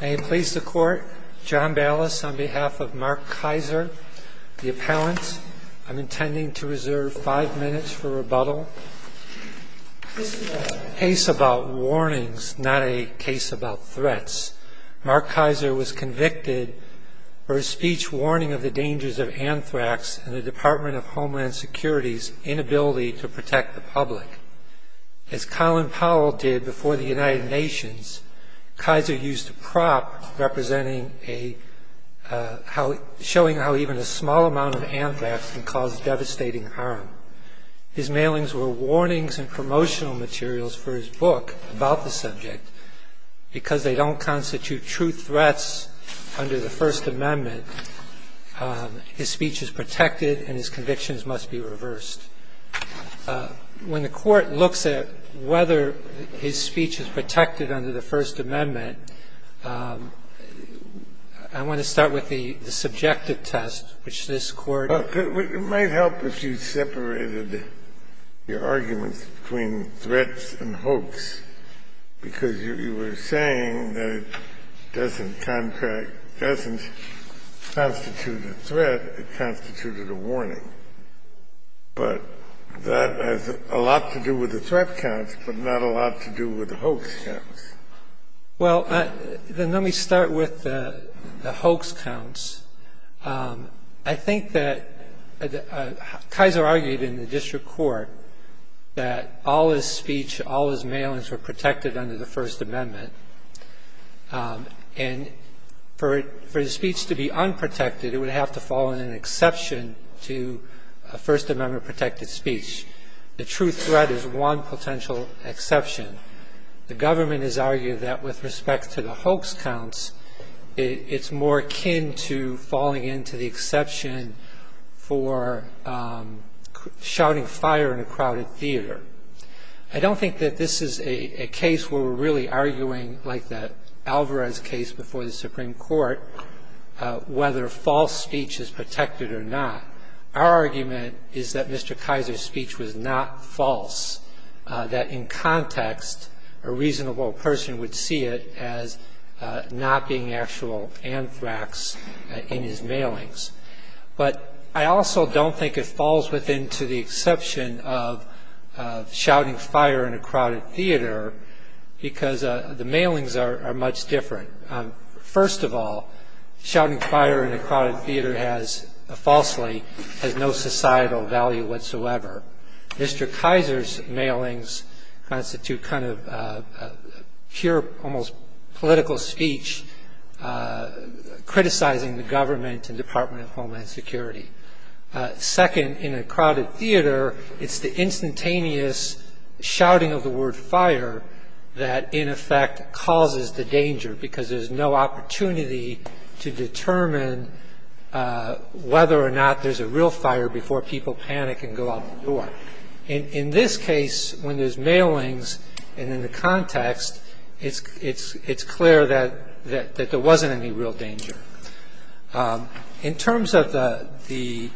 May it please the court, John Ballas on behalf of Marc Keyser, the appellant. I'm intending to reserve five minutes for rebuttal. This is a case about warnings, not a case about threats. Marc Keyser was convicted for a speech warning of the dangers of anthrax and the Department of Homeland Security's inability to protect the public. As Colin Powell did before the United Nations, Keyser used a prop showing how even a small amount of anthrax can cause devastating harm. His mailings were warnings and promotional materials for his book about the subject. Because they don't constitute true threats under the First Amendment, his speech is protected and his convictions must be reversed. When the Court looks at whether his speech is protected under the First Amendment, I want to start with the subjective test, which this Court ---- Kennedy, it might help if you separated your arguments between threats and hoax, because you were saying that it doesn't contract, doesn't constitute a threat. It constitutes a warning. But that has a lot to do with the threat counts but not a lot to do with the hoax counts. Well, then let me start with the hoax counts. I think that Keyser argued in the district court that all his speech, all his mailings were protected under the First Amendment. And for his speech to be unprotected, it would have to fall in an exception to a First Amendment protected speech. The true threat is one potential exception. The government has argued that with respect to the hoax counts, it's more akin to falling into the exception for shouting fire in a crowded theater. I don't think that this is a case where we're really arguing like the Alvarez case before the Supreme Court whether false speech is protected or not. Our argument is that Mr. Keyser's speech was not false, that in context a reasonable person would see it as not being actual anthrax in his mailings. But I also don't think it falls within to the exception of shouting fire in a crowded theater because the mailings are much different. First of all, shouting fire in a crowded theater falsely has no societal value whatsoever. Mr. Keyser's mailings constitute kind of pure almost political speech criticizing the government and Department of Homeland Security. Second, in a crowded theater, it's the instantaneous shouting of the word fire that in effect causes the danger because there's no opportunity to determine whether or not there's a real fire before people panic and go out the door. In this case, when there's mailings and in the context, it's clear that there wasn't any real danger. In terms of the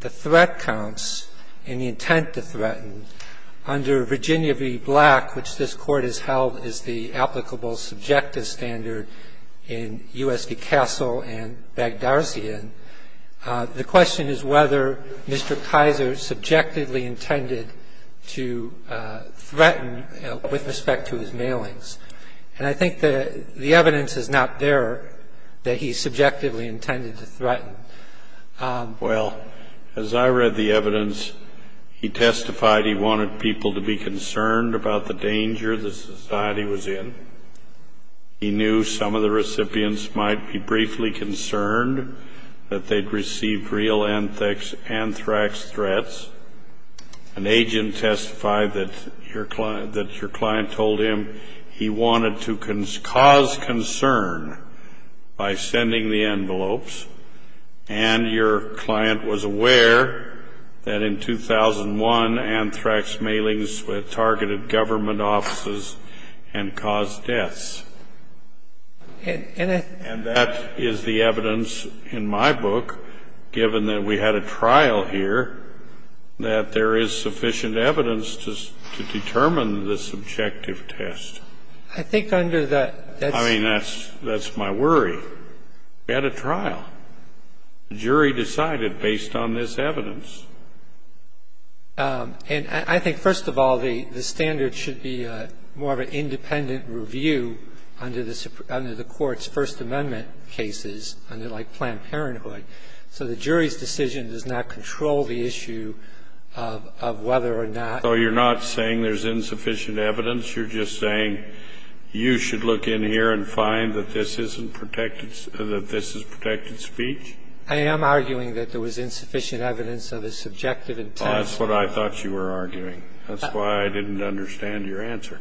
threat counts and the intent to threaten, under Virginia v. Black, which this Court has held is the applicable subjective standard in U.S. v. Castle and Baghdarsian, the question is whether Mr. Keyser subjectively intended to threaten with respect to his mailings. And I think the evidence is not there that he subjectively intended to threaten. Well, as I read the evidence, he testified he wanted people to be concerned about the danger that society was in. He knew some of the recipients might be briefly concerned that they'd received real anthrax threats. An agent testified that your client told him he wanted to cause concern by sending the envelopes, and your client was aware that in 2001 anthrax mailings targeted government offices and caused deaths. And that is the evidence in my book, given that we had a trial here, that there is sufficient evidence to determine the subjective test. I think under that, that's... The jury decided based on this evidence. And I think, first of all, the standard should be more of an independent review under the Court's First Amendment cases, like Planned Parenthood. So the jury's decision does not control the issue of whether or not... So you're not saying there's insufficient evidence. You're just saying you should look in here and find that this isn't protected or that this is protected speech? I am arguing that there was insufficient evidence of his subjective intent. Oh, that's what I thought you were arguing. That's why I didn't understand your answer.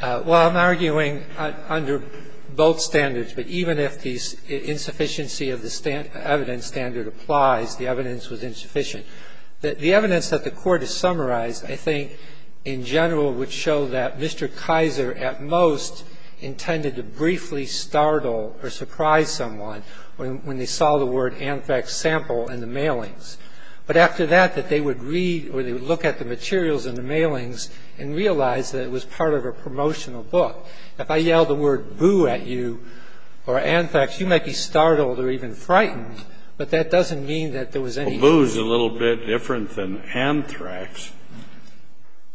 Well, I'm arguing under both standards. But even if the insufficiency of the evidence standard applies, the evidence was insufficient. The evidence that the Court has summarized, I think, in general, would show that Mr. Kaiser at most intended to briefly startle or surprise someone when they saw the word anthrax sample in the mailings. But after that, that they would read or they would look at the materials in the mailings and realize that it was part of a promotional book. If I yelled the word boo at you or anthrax, you might be startled or even frightened. But that doesn't mean that there was any... Well, I'm arguing that there was a little bit different than anthrax.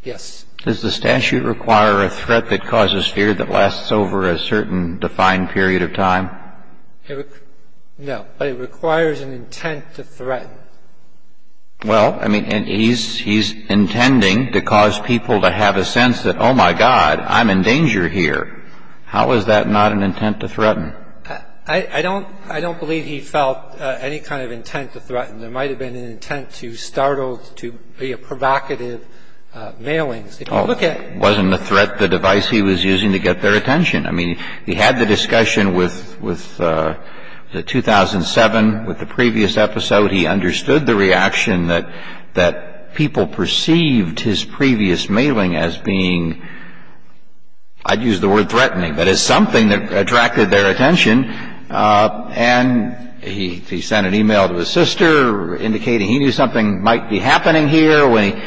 Yes. Does the statute require a threat that causes fear that lasts over a certain defined period of time? No. But it requires an intent to threaten. Well, I mean, he's intending to cause people to have a sense that, oh, my God, I'm in danger here. How is that not an intent to threaten? I don't believe he felt any kind of intent to threaten. There might have been an intent to startle, to be provocative mailings. If you look at... Oh, it wasn't a threat, the device he was using to get their attention. I mean, he had the discussion with the 2007, with the previous episode. He understood the reaction that people perceived his previous mailing as being, I'd use the word threatening, but as something that attracted their attention. And he sent an e-mail to his sister indicating he knew something might be happening here.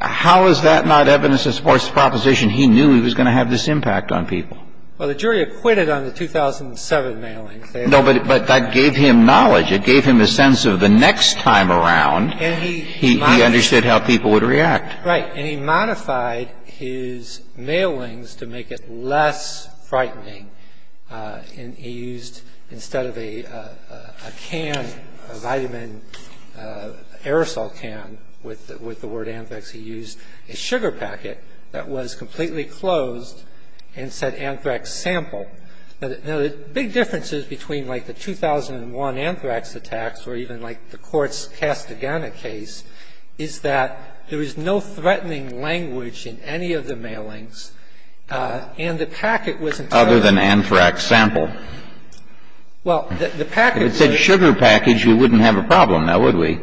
How is that not evidence that supports the proposition he knew he was going to have this impact on people? Well, the jury acquitted on the 2007 mailings. No, but that gave him knowledge. It gave him a sense of the next time around, he understood how people would react. Right. And he modified his mailings to make it less frightening. And he used, instead of a can, a vitamin aerosol can with the word anthrax, he used a sugar packet that was completely closed and said anthrax sample. Now, the big differences between like the 2001 anthrax attacks or even like the court's Castagena case is that there is no threatening language in any of the mailings, and the packet was entirely open. Other than anthrax sample. Well, the packet was. If it said sugar package, you wouldn't have a problem now, would we?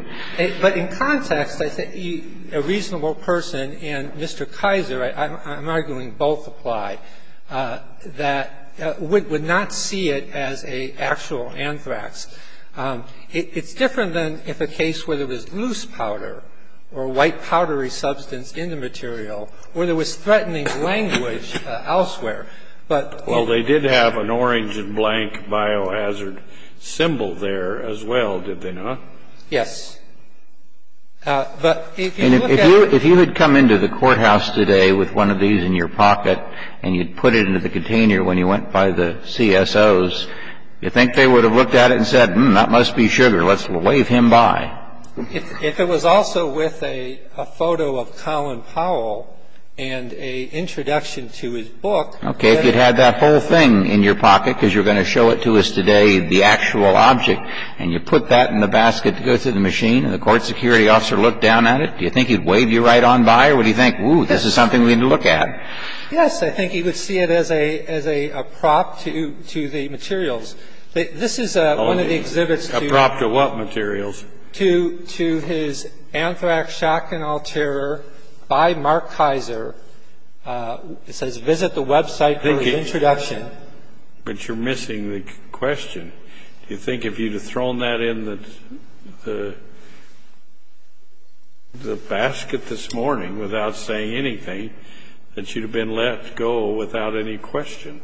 But in context, I think a reasonable person and Mr. Kaiser, I'm arguing both apply, that would not see it as an actual anthrax. It's different than if a case where there was loose powder or white powdery substance in the material where there was threatening language elsewhere. Well, they did have an orange and blank biohazard symbol there as well, did they not? Yes. But if you look at it. And if you had come into the courthouse today with one of these in your pocket and you put it into the container when you went by the CSOs, do you think they would have looked at it and said, hmm, that must be sugar. Let's wave him by. If it was also with a photo of Colin Powell and an introduction to his book. Okay. If you had that whole thing in your pocket because you're going to show it to us today, the actual object, and you put that in the basket to go to the machine and the court security officer looked down at it, do you think he'd wave you right on by or would he think, ooh, this is something we need to look at? Yes, I think he would see it as a prop to the materials. This is one of the exhibits. A prop to what materials? To his anthrax shotgun alterer by Mark Kaiser. It says, visit the website for the introduction. But you're missing the question. Do you think if you'd have thrown that in the basket this morning without saying anything, that you'd have been let go without any question?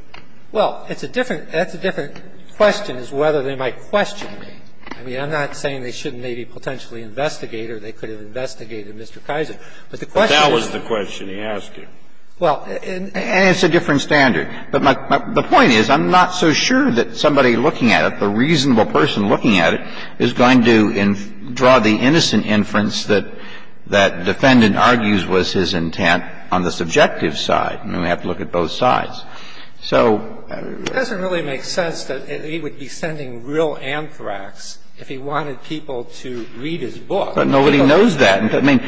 Well, it's a different question is whether they might question me. I mean, I'm not saying they shouldn't maybe potentially investigate or they could have investigated Mr. Kaiser. But the question is the question he asked you. Well, and it's a different standard. But the point is I'm not so sure that somebody looking at it, the reasonable I mean, we have to look at both sides. So it doesn't really make sense that he would be sending real anthrax if he wanted people to read his book. But nobody knows that. I mean,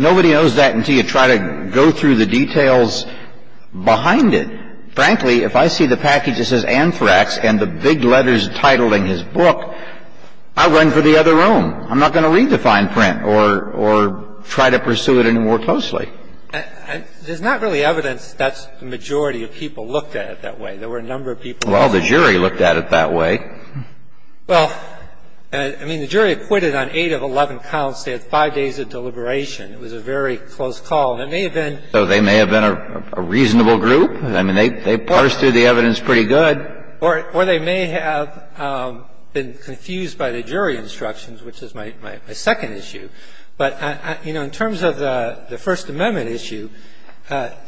nobody knows that until you try to go through the details behind it. Frankly, if I see the package that says anthrax and the big letters titling his book, I'll run for the other room. I'm not going to read the fine print or try to pursue it any more closely. There's not really evidence that the majority of people looked at it that way. There were a number of people who did. Well, the jury looked at it that way. Well, I mean, the jury acquitted on eight of 11 counts. They had five days of deliberation. It was a very close call. And it may have been So they may have been a reasonable group. I mean, they parsed through the evidence pretty good. Or they may have been confused by the jury instructions, which is my second issue. But, you know, in terms of the First Amendment issue,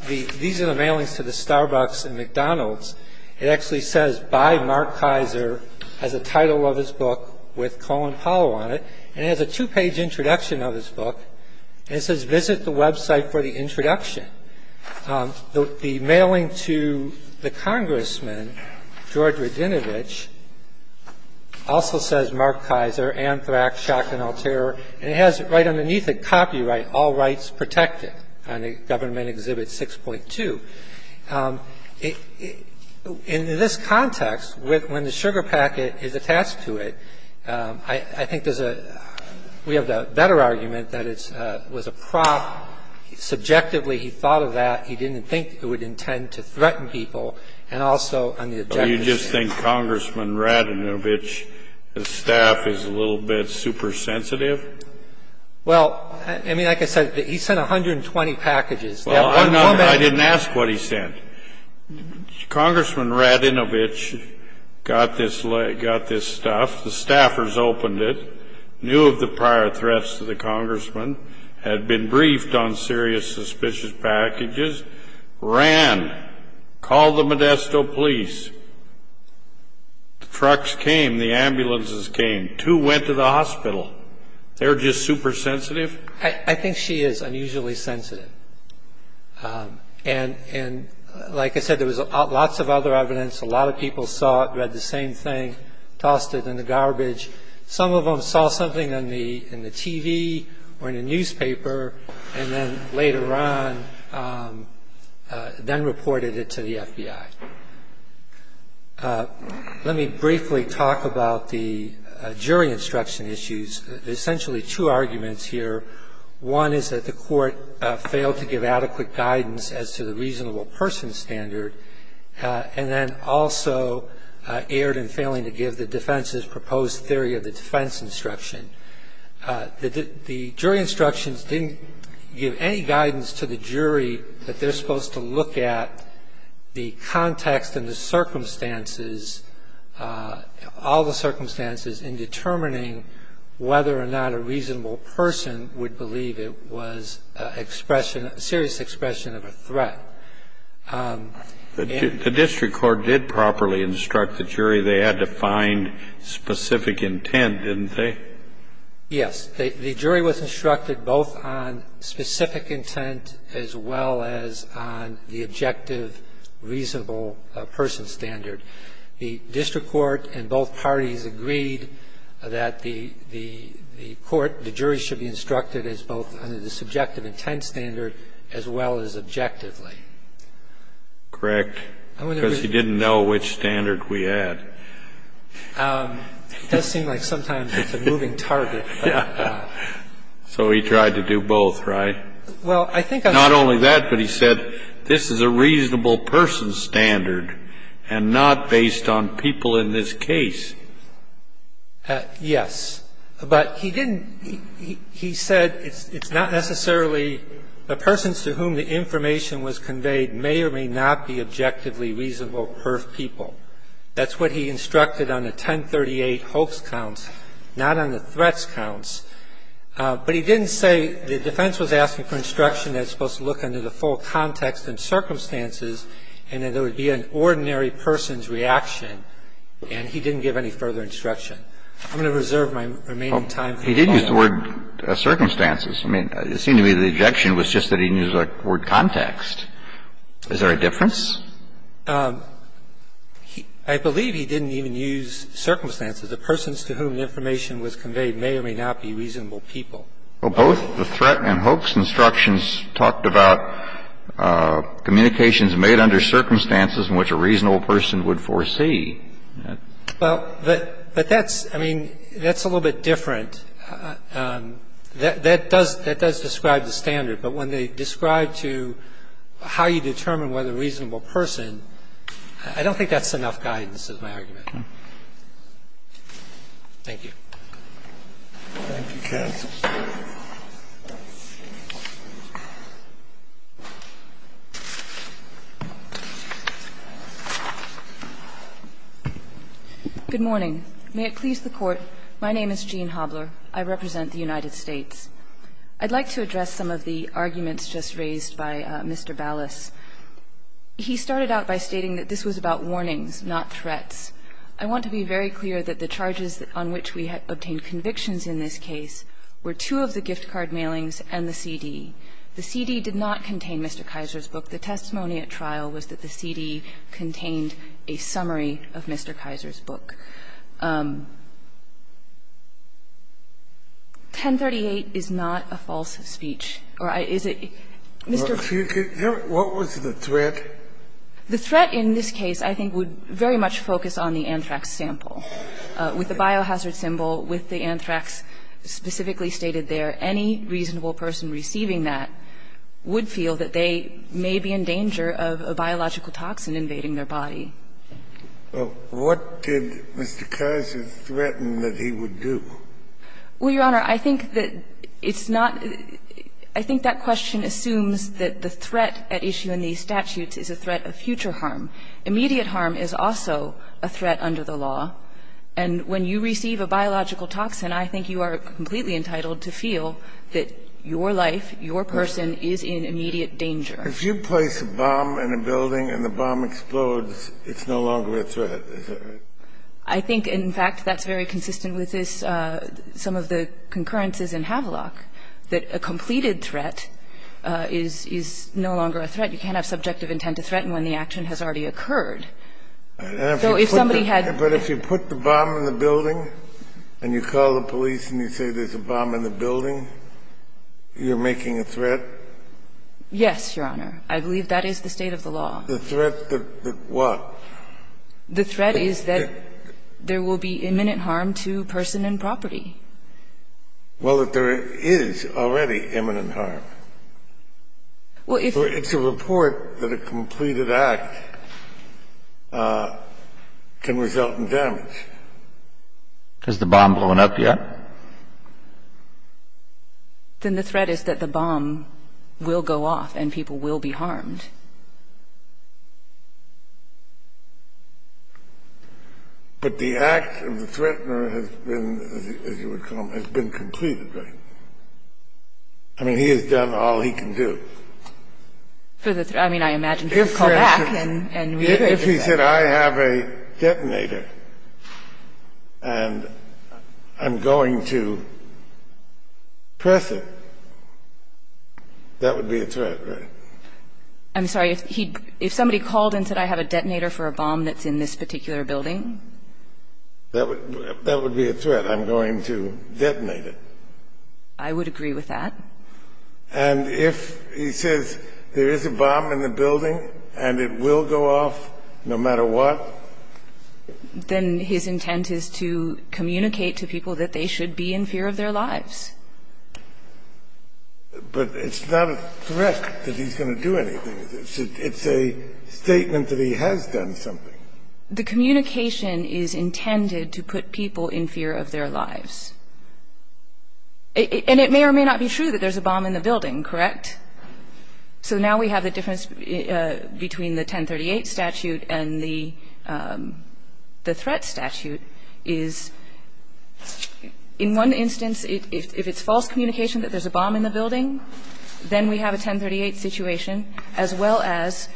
these are the mailings to the Starbucks and McDonald's. It actually says, By Mark Kaiser, as the title of his book, with Colin Powell on it. And it has a two-page introduction of his book. And it says, Visit the website for the introduction. And the mailing to the congressman, George Radinovich, also says, Mark Kaiser, Amtrak, Schock and Alterra. And it has right underneath it, copyright, all rights protected, on the Government Exhibit 6.2. In this context, when the sugar packet is attached to it, I think there's a we have a better argument that it was a prop. And I think it's important to note that the objective is to use and to threaten people. And subjectively, he thought of that. He didn't think it would intend to threaten people. And also on the objective of You just think Congressman Radinovich's staff is a little bit supersensitive? Well, I mean, like I said, he sent 120 packages. Well, I didn't ask what he sent. Congressman Radinovich got this stuff. The staffers opened it, knew of the prior threats to the congressman, had been briefed on serious suspicious packages, ran, called the Modesto police. The trucks came. The ambulances came. Two went to the hospital. They were just supersensitive. I think she is unusually sensitive. And like I said, there was lots of other evidence. A lot of people saw it, read the same thing, tossed it in the garbage. Some of them saw something in the TV or in the newspaper and then later on reported it to the FBI. Let me briefly talk about the jury instruction issues. Essentially two arguments here. One is that the court failed to give adequate guidance as to the reasonable person standard and then also erred in failing to give the defense's proposed theory of the defense instruction. The jury instructions didn't give any guidance to the jury that they're supposed to look at the context and the circumstances, all the circumstances in determining whether or not a reasonable person would believe it was expression, serious expression of a threat. The district court did properly instruct the jury they had to find specific intent, didn't they? Yes. The jury was instructed both on specific intent as well as on the objective reasonable person standard. The district court and both parties agreed that the court, the jury should be instructed as both under the subjective intent standard as well as objectively. Correct. Because he didn't know which standard we had. It does seem like sometimes it's a moving target. So he tried to do both, right? Well, I think I'm He said it's not necessarily the persons to whom the information was conveyed may or may not be objectively reasonable perf people. That's what he instructed on the 1038 hoax counts, not on the threats counts. But he didn't say the defense was asking for instruction that it's supposed to look at the context and the circumstances. He said it's supposed to look under the full context and circumstances and that there would be an ordinary person's reaction. And he didn't give any further instruction. I'm going to reserve my remaining time. He did use the word circumstances. I mean, it seemed to me the objection was just that he didn't use the word context. Is there a difference? I believe he didn't even use circumstances. The persons to whom the information was conveyed may or may not be reasonable people. Well, both the threat and hoax instructions talked about communications made under circumstances in which a reasonable person would foresee. Well, but that's, I mean, that's a little bit different. That does describe the standard. But when they describe to how you determine whether a reasonable person, I don't think that's enough guidance, is my argument. Thank you. Thank you, counsel. Good morning. May it please the Court. My name is Jean Hobler. I represent the United States. I'd like to address some of the arguments just raised by Mr. Ballas. He started out by stating that this was about warnings, not threats. I want to be very clear that the charges on which we obtained convictions in this case were two of the gift card mailings and the CD. The CD did not contain Mr. Kaiser's book. The testimony at trial was that the CD contained a summary of Mr. Kaiser's book. 1038 is not a false speech. Or is it? Mr. Ballas. What was the threat? The threat in this case I think would very much focus on the anthrax sample. With the biohazard symbol, with the anthrax specifically stated there, any reasonable person receiving that would feel that they may be in danger of a biological toxin invading their body. Well, what did Mr. Kaiser threaten that he would do? Well, Your Honor, I think that it's not — I think that question assumes that the threat at issue in these statutes is a threat of future harm. Immediate harm is also a threat under the law. And when you receive a biological toxin, I think you are completely entitled to feel that your life, your person, is in immediate danger. If you place a bomb in a building and the bomb explodes, it's no longer a threat. Is that right? I think, in fact, that's very consistent with this — some of the concurrences in Havelock that a completed threat is no longer a threat. You can't have subjective intent to threaten when the action has already occurred. So if somebody had — But if you put the bomb in the building and you call the police and you say there's a bomb in the building, you're making a threat? Yes, Your Honor. I believe that is the state of the law. The threat that what? The threat is that there will be imminent harm to person and property. Well, that there is already imminent harm. Well, if — It's a report that a completed act can result in damage. Has the bomb blown up yet? Then the threat is that the bomb will go off and people will be harmed. But the act of the threatener has been, as you would call him, has been completed, right? I mean, he has done all he can do. For the — I mean, I imagine he would call back and reiterate that. If he said, I have a detonator and I'm going to press it, that would be a threat, right? I'm sorry. If somebody called and said, I have a detonator for a bomb that's in this particular building? That would be a threat. I'm going to detonate it. I would agree with that. And if he says there is a bomb in the building and it will go off no matter what? Then his intent is to communicate to people that they should be in fear of their lives. But it's not a threat that he's going to do anything. It's a statement that he has done something. The communication is intended to put people in fear of their lives. And it may or may not be true that there's a bomb in the building, correct? So now we have the difference between the 1038 statute and the threat statute is, in one instance, if it's false communication that there's a bomb in the building, then we have a 1038 situation, as well as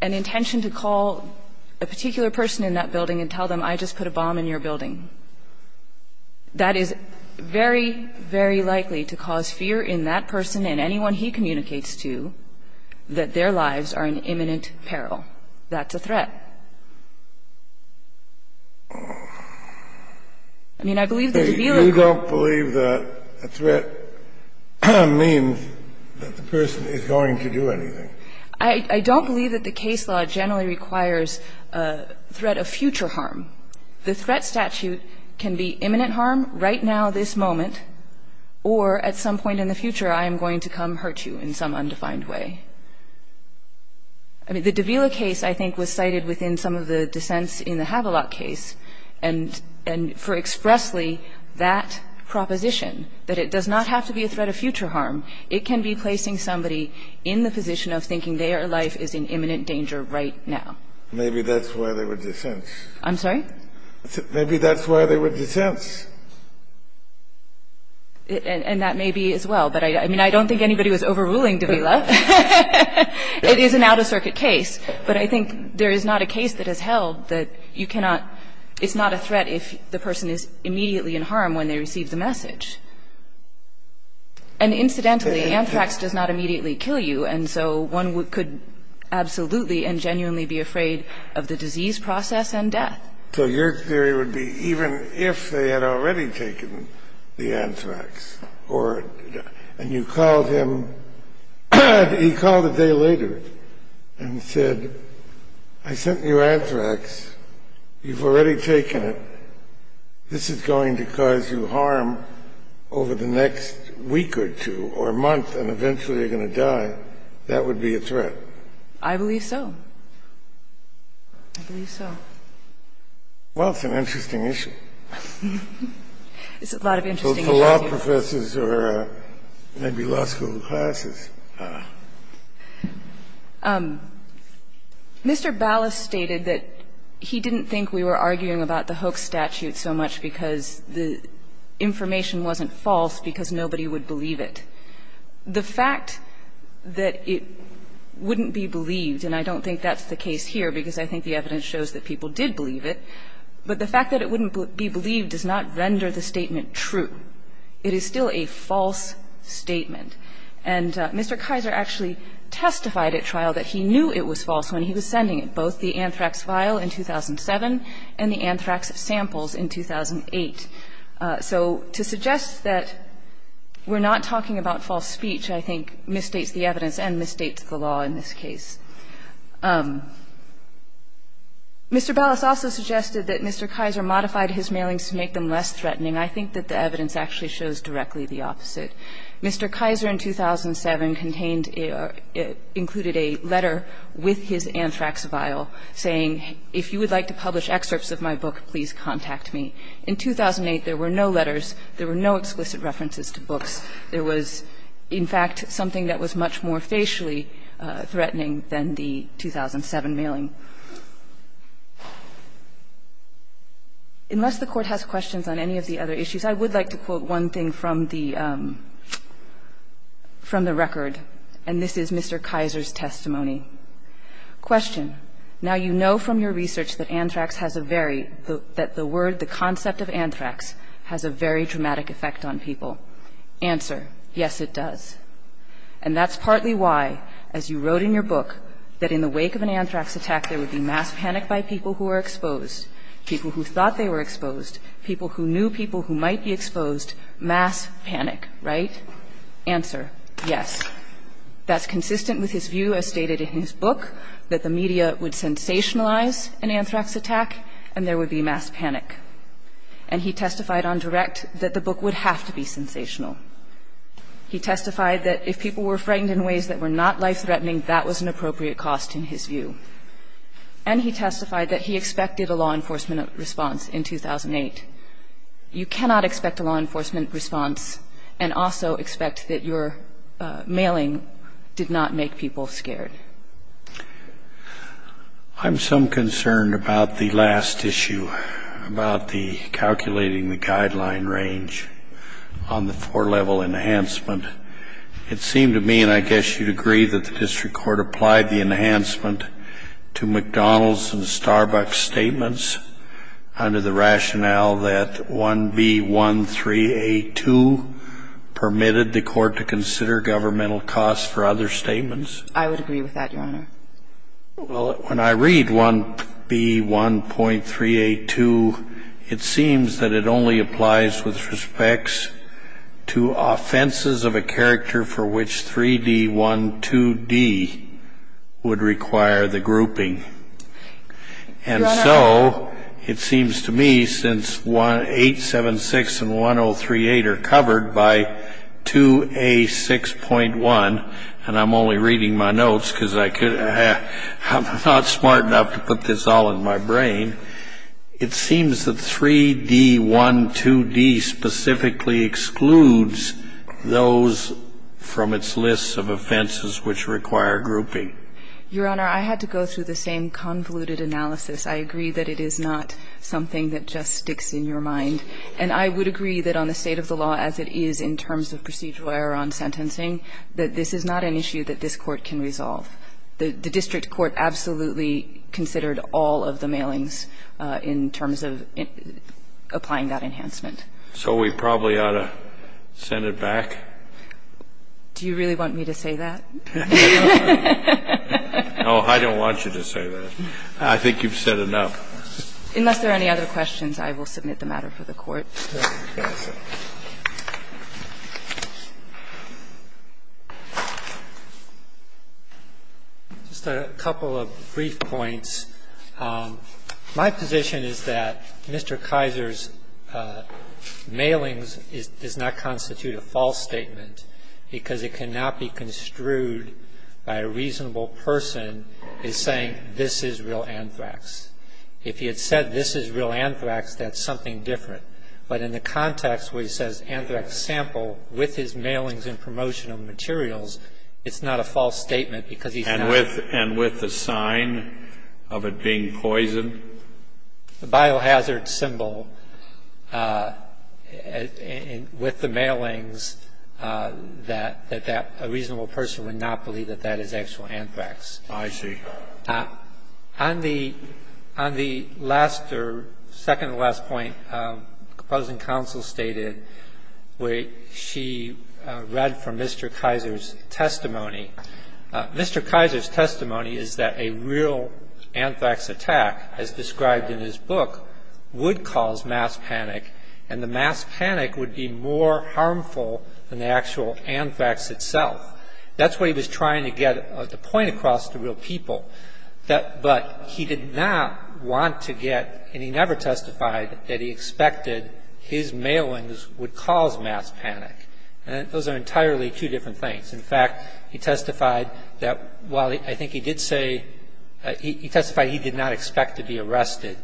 an intention to call a particular person in that building and tell them, I just put a bomb in your building. That is very, very likely to cause fear in that person and anyone he communicates to that their lives are in imminent peril. That's a threat. I mean, I believe the de Vila case. Kennedy, you don't believe that a threat means that the person is going to do anything? I don't believe that the case law generally requires a threat of future harm. The threat statute can be imminent harm right now, this moment, or at some point in the future, I am going to come hurt you in some undefined way. I mean, the de Vila case, I think, was cited within some of the dissents in the Havelock case, and for expressly that proposition, that it does not have to be a threat of future harm. It can be placing somebody in the position of thinking their life is in imminent danger right now. Maybe that's why they were dissents. I'm sorry? Maybe that's why they were dissents. And that may be as well. But I mean, I don't think anybody was overruling de Vila. It is an out-of-circuit case, but I think there is not a case that has held that you cannot – it's not a threat if the person is immediately in harm when they receive the message. And incidentally, anthrax does not immediately kill you, and so one could absolutely and genuinely be afraid of the disease process and death. So your theory would be even if they had already taken the anthrax or – and you called him – he called a day later and said, I sent you anthrax. You've already taken it. This is going to cause you harm over the next week or two or month, and eventually you're going to die. That would be a threat. I believe so. I believe so. It's a lot of interesting issues. I don't know if it's interesting to law professors or maybe law school classes. Mr. Ballas stated that he didn't think we were arguing about the Hoek statute so much because the information wasn't false because nobody would believe it. The fact that it wouldn't be believed, and I don't think that's the case here because I think the evidence shows that people did believe it, but the fact that it wouldn't be believed does not render the statement true. It is still a false statement. And Mr. Kaiser actually testified at trial that he knew it was false when he was sending it, both the anthrax vial in 2007 and the anthrax samples in 2008. So to suggest that we're not talking about false speech, I think, misstates the evidence and misstates the law in this case. Mr. Ballas also suggested that Mr. Kaiser modified his mailings to make them less threatening. I think that the evidence actually shows directly the opposite. Mr. Kaiser in 2007 contained or included a letter with his anthrax vial saying, if you would like to publish excerpts of my book, please contact me. In 2008, there were no letters. There were no explicit references to books. There was, in fact, something that was much more facially threatening than the 2007 mailing. Unless the Court has questions on any of the other issues, I would like to quote one thing from the record, and this is Mr. Kaiser's testimony. Question. Now you know from your research that anthrax has a very – that the word, the concept of anthrax, has a very dramatic effect on people. Answer. Yes, it does. And that's partly why, as you wrote in your book, that in the wake of an anthrax attack, there would be mass panic by people who were exposed, people who thought they were exposed, people who knew people who might be exposed, mass panic, right? Answer. Yes. That's consistent with his view, as stated in his book, that the media would sensationalize an anthrax attack and there would be mass panic. And he testified on direct that the book would have to be sensational. He testified that if people were frightened in ways that were not life-threatening, that was an appropriate cost in his view. And he testified that he expected a law enforcement response in 2008. You cannot expect a law enforcement response and also expect that your mailing did not make people scared. I'm some concerned about the last issue, about the calculating the guideline range on the four-level enhancement. It seemed to me, and I guess you'd agree, that the district court applied the enhancement to McDonald's and Starbucks statements under the rationale that 1B13A2 permitted the court to consider governmental costs for other statements. I would agree with that, Your Honor. Well, when I read 1B13A2, it seems that it only applies with respects to offenses of a character for which 3D12D would require the grouping. Your Honor. And so it seems to me since 876 and 1038 are covered by 2A6.1, and I'm only reading my notes because I'm not smart enough to put this all in my brain. It seems that 3D12D specifically excludes those from its list of offenses which require grouping. Your Honor, I had to go through the same convoluted analysis. I agree that it is not something that just sticks in your mind. And I would agree that on the state of the law as it is in terms of procedural error on sentencing, that this is not an issue that this Court can resolve. The district court absolutely considered all of the mailings in terms of applying that enhancement. So we probably ought to send it back? Do you really want me to say that? No, I don't want you to say that. I think you've said enough. Just a couple of brief points. My position is that Mr. Kaiser's mailings does not constitute a false statement because it cannot be construed by a reasonable person as saying this is real anthrax. If he had said this is real anthrax, that's something different. But in the context where he says anthrax sample with his mailings and promotional materials, it's not a false statement because he's not. And with the sign of it being poison? The biohazard symbol with the mailings that a reasonable person would not believe that that is actual anthrax. I see. On the last or second to last point, opposing counsel stated where she read from Mr. Kaiser's testimony. Mr. Kaiser's testimony is that a real anthrax attack, as described in his book, would cause mass panic, and the mass panic would be more harmful than the actual anthrax itself. That's what he was trying to get the point across to real people. But he did not want to get, and he never testified that he expected his mailings would cause mass panic. Those are entirely two different things. In fact, he testified that while I think he did say, he testified he did not expect to be arrested,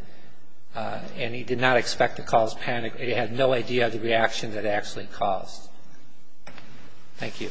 and he did not expect to cause panic. He had no idea of the reaction that it actually caused. Thank you.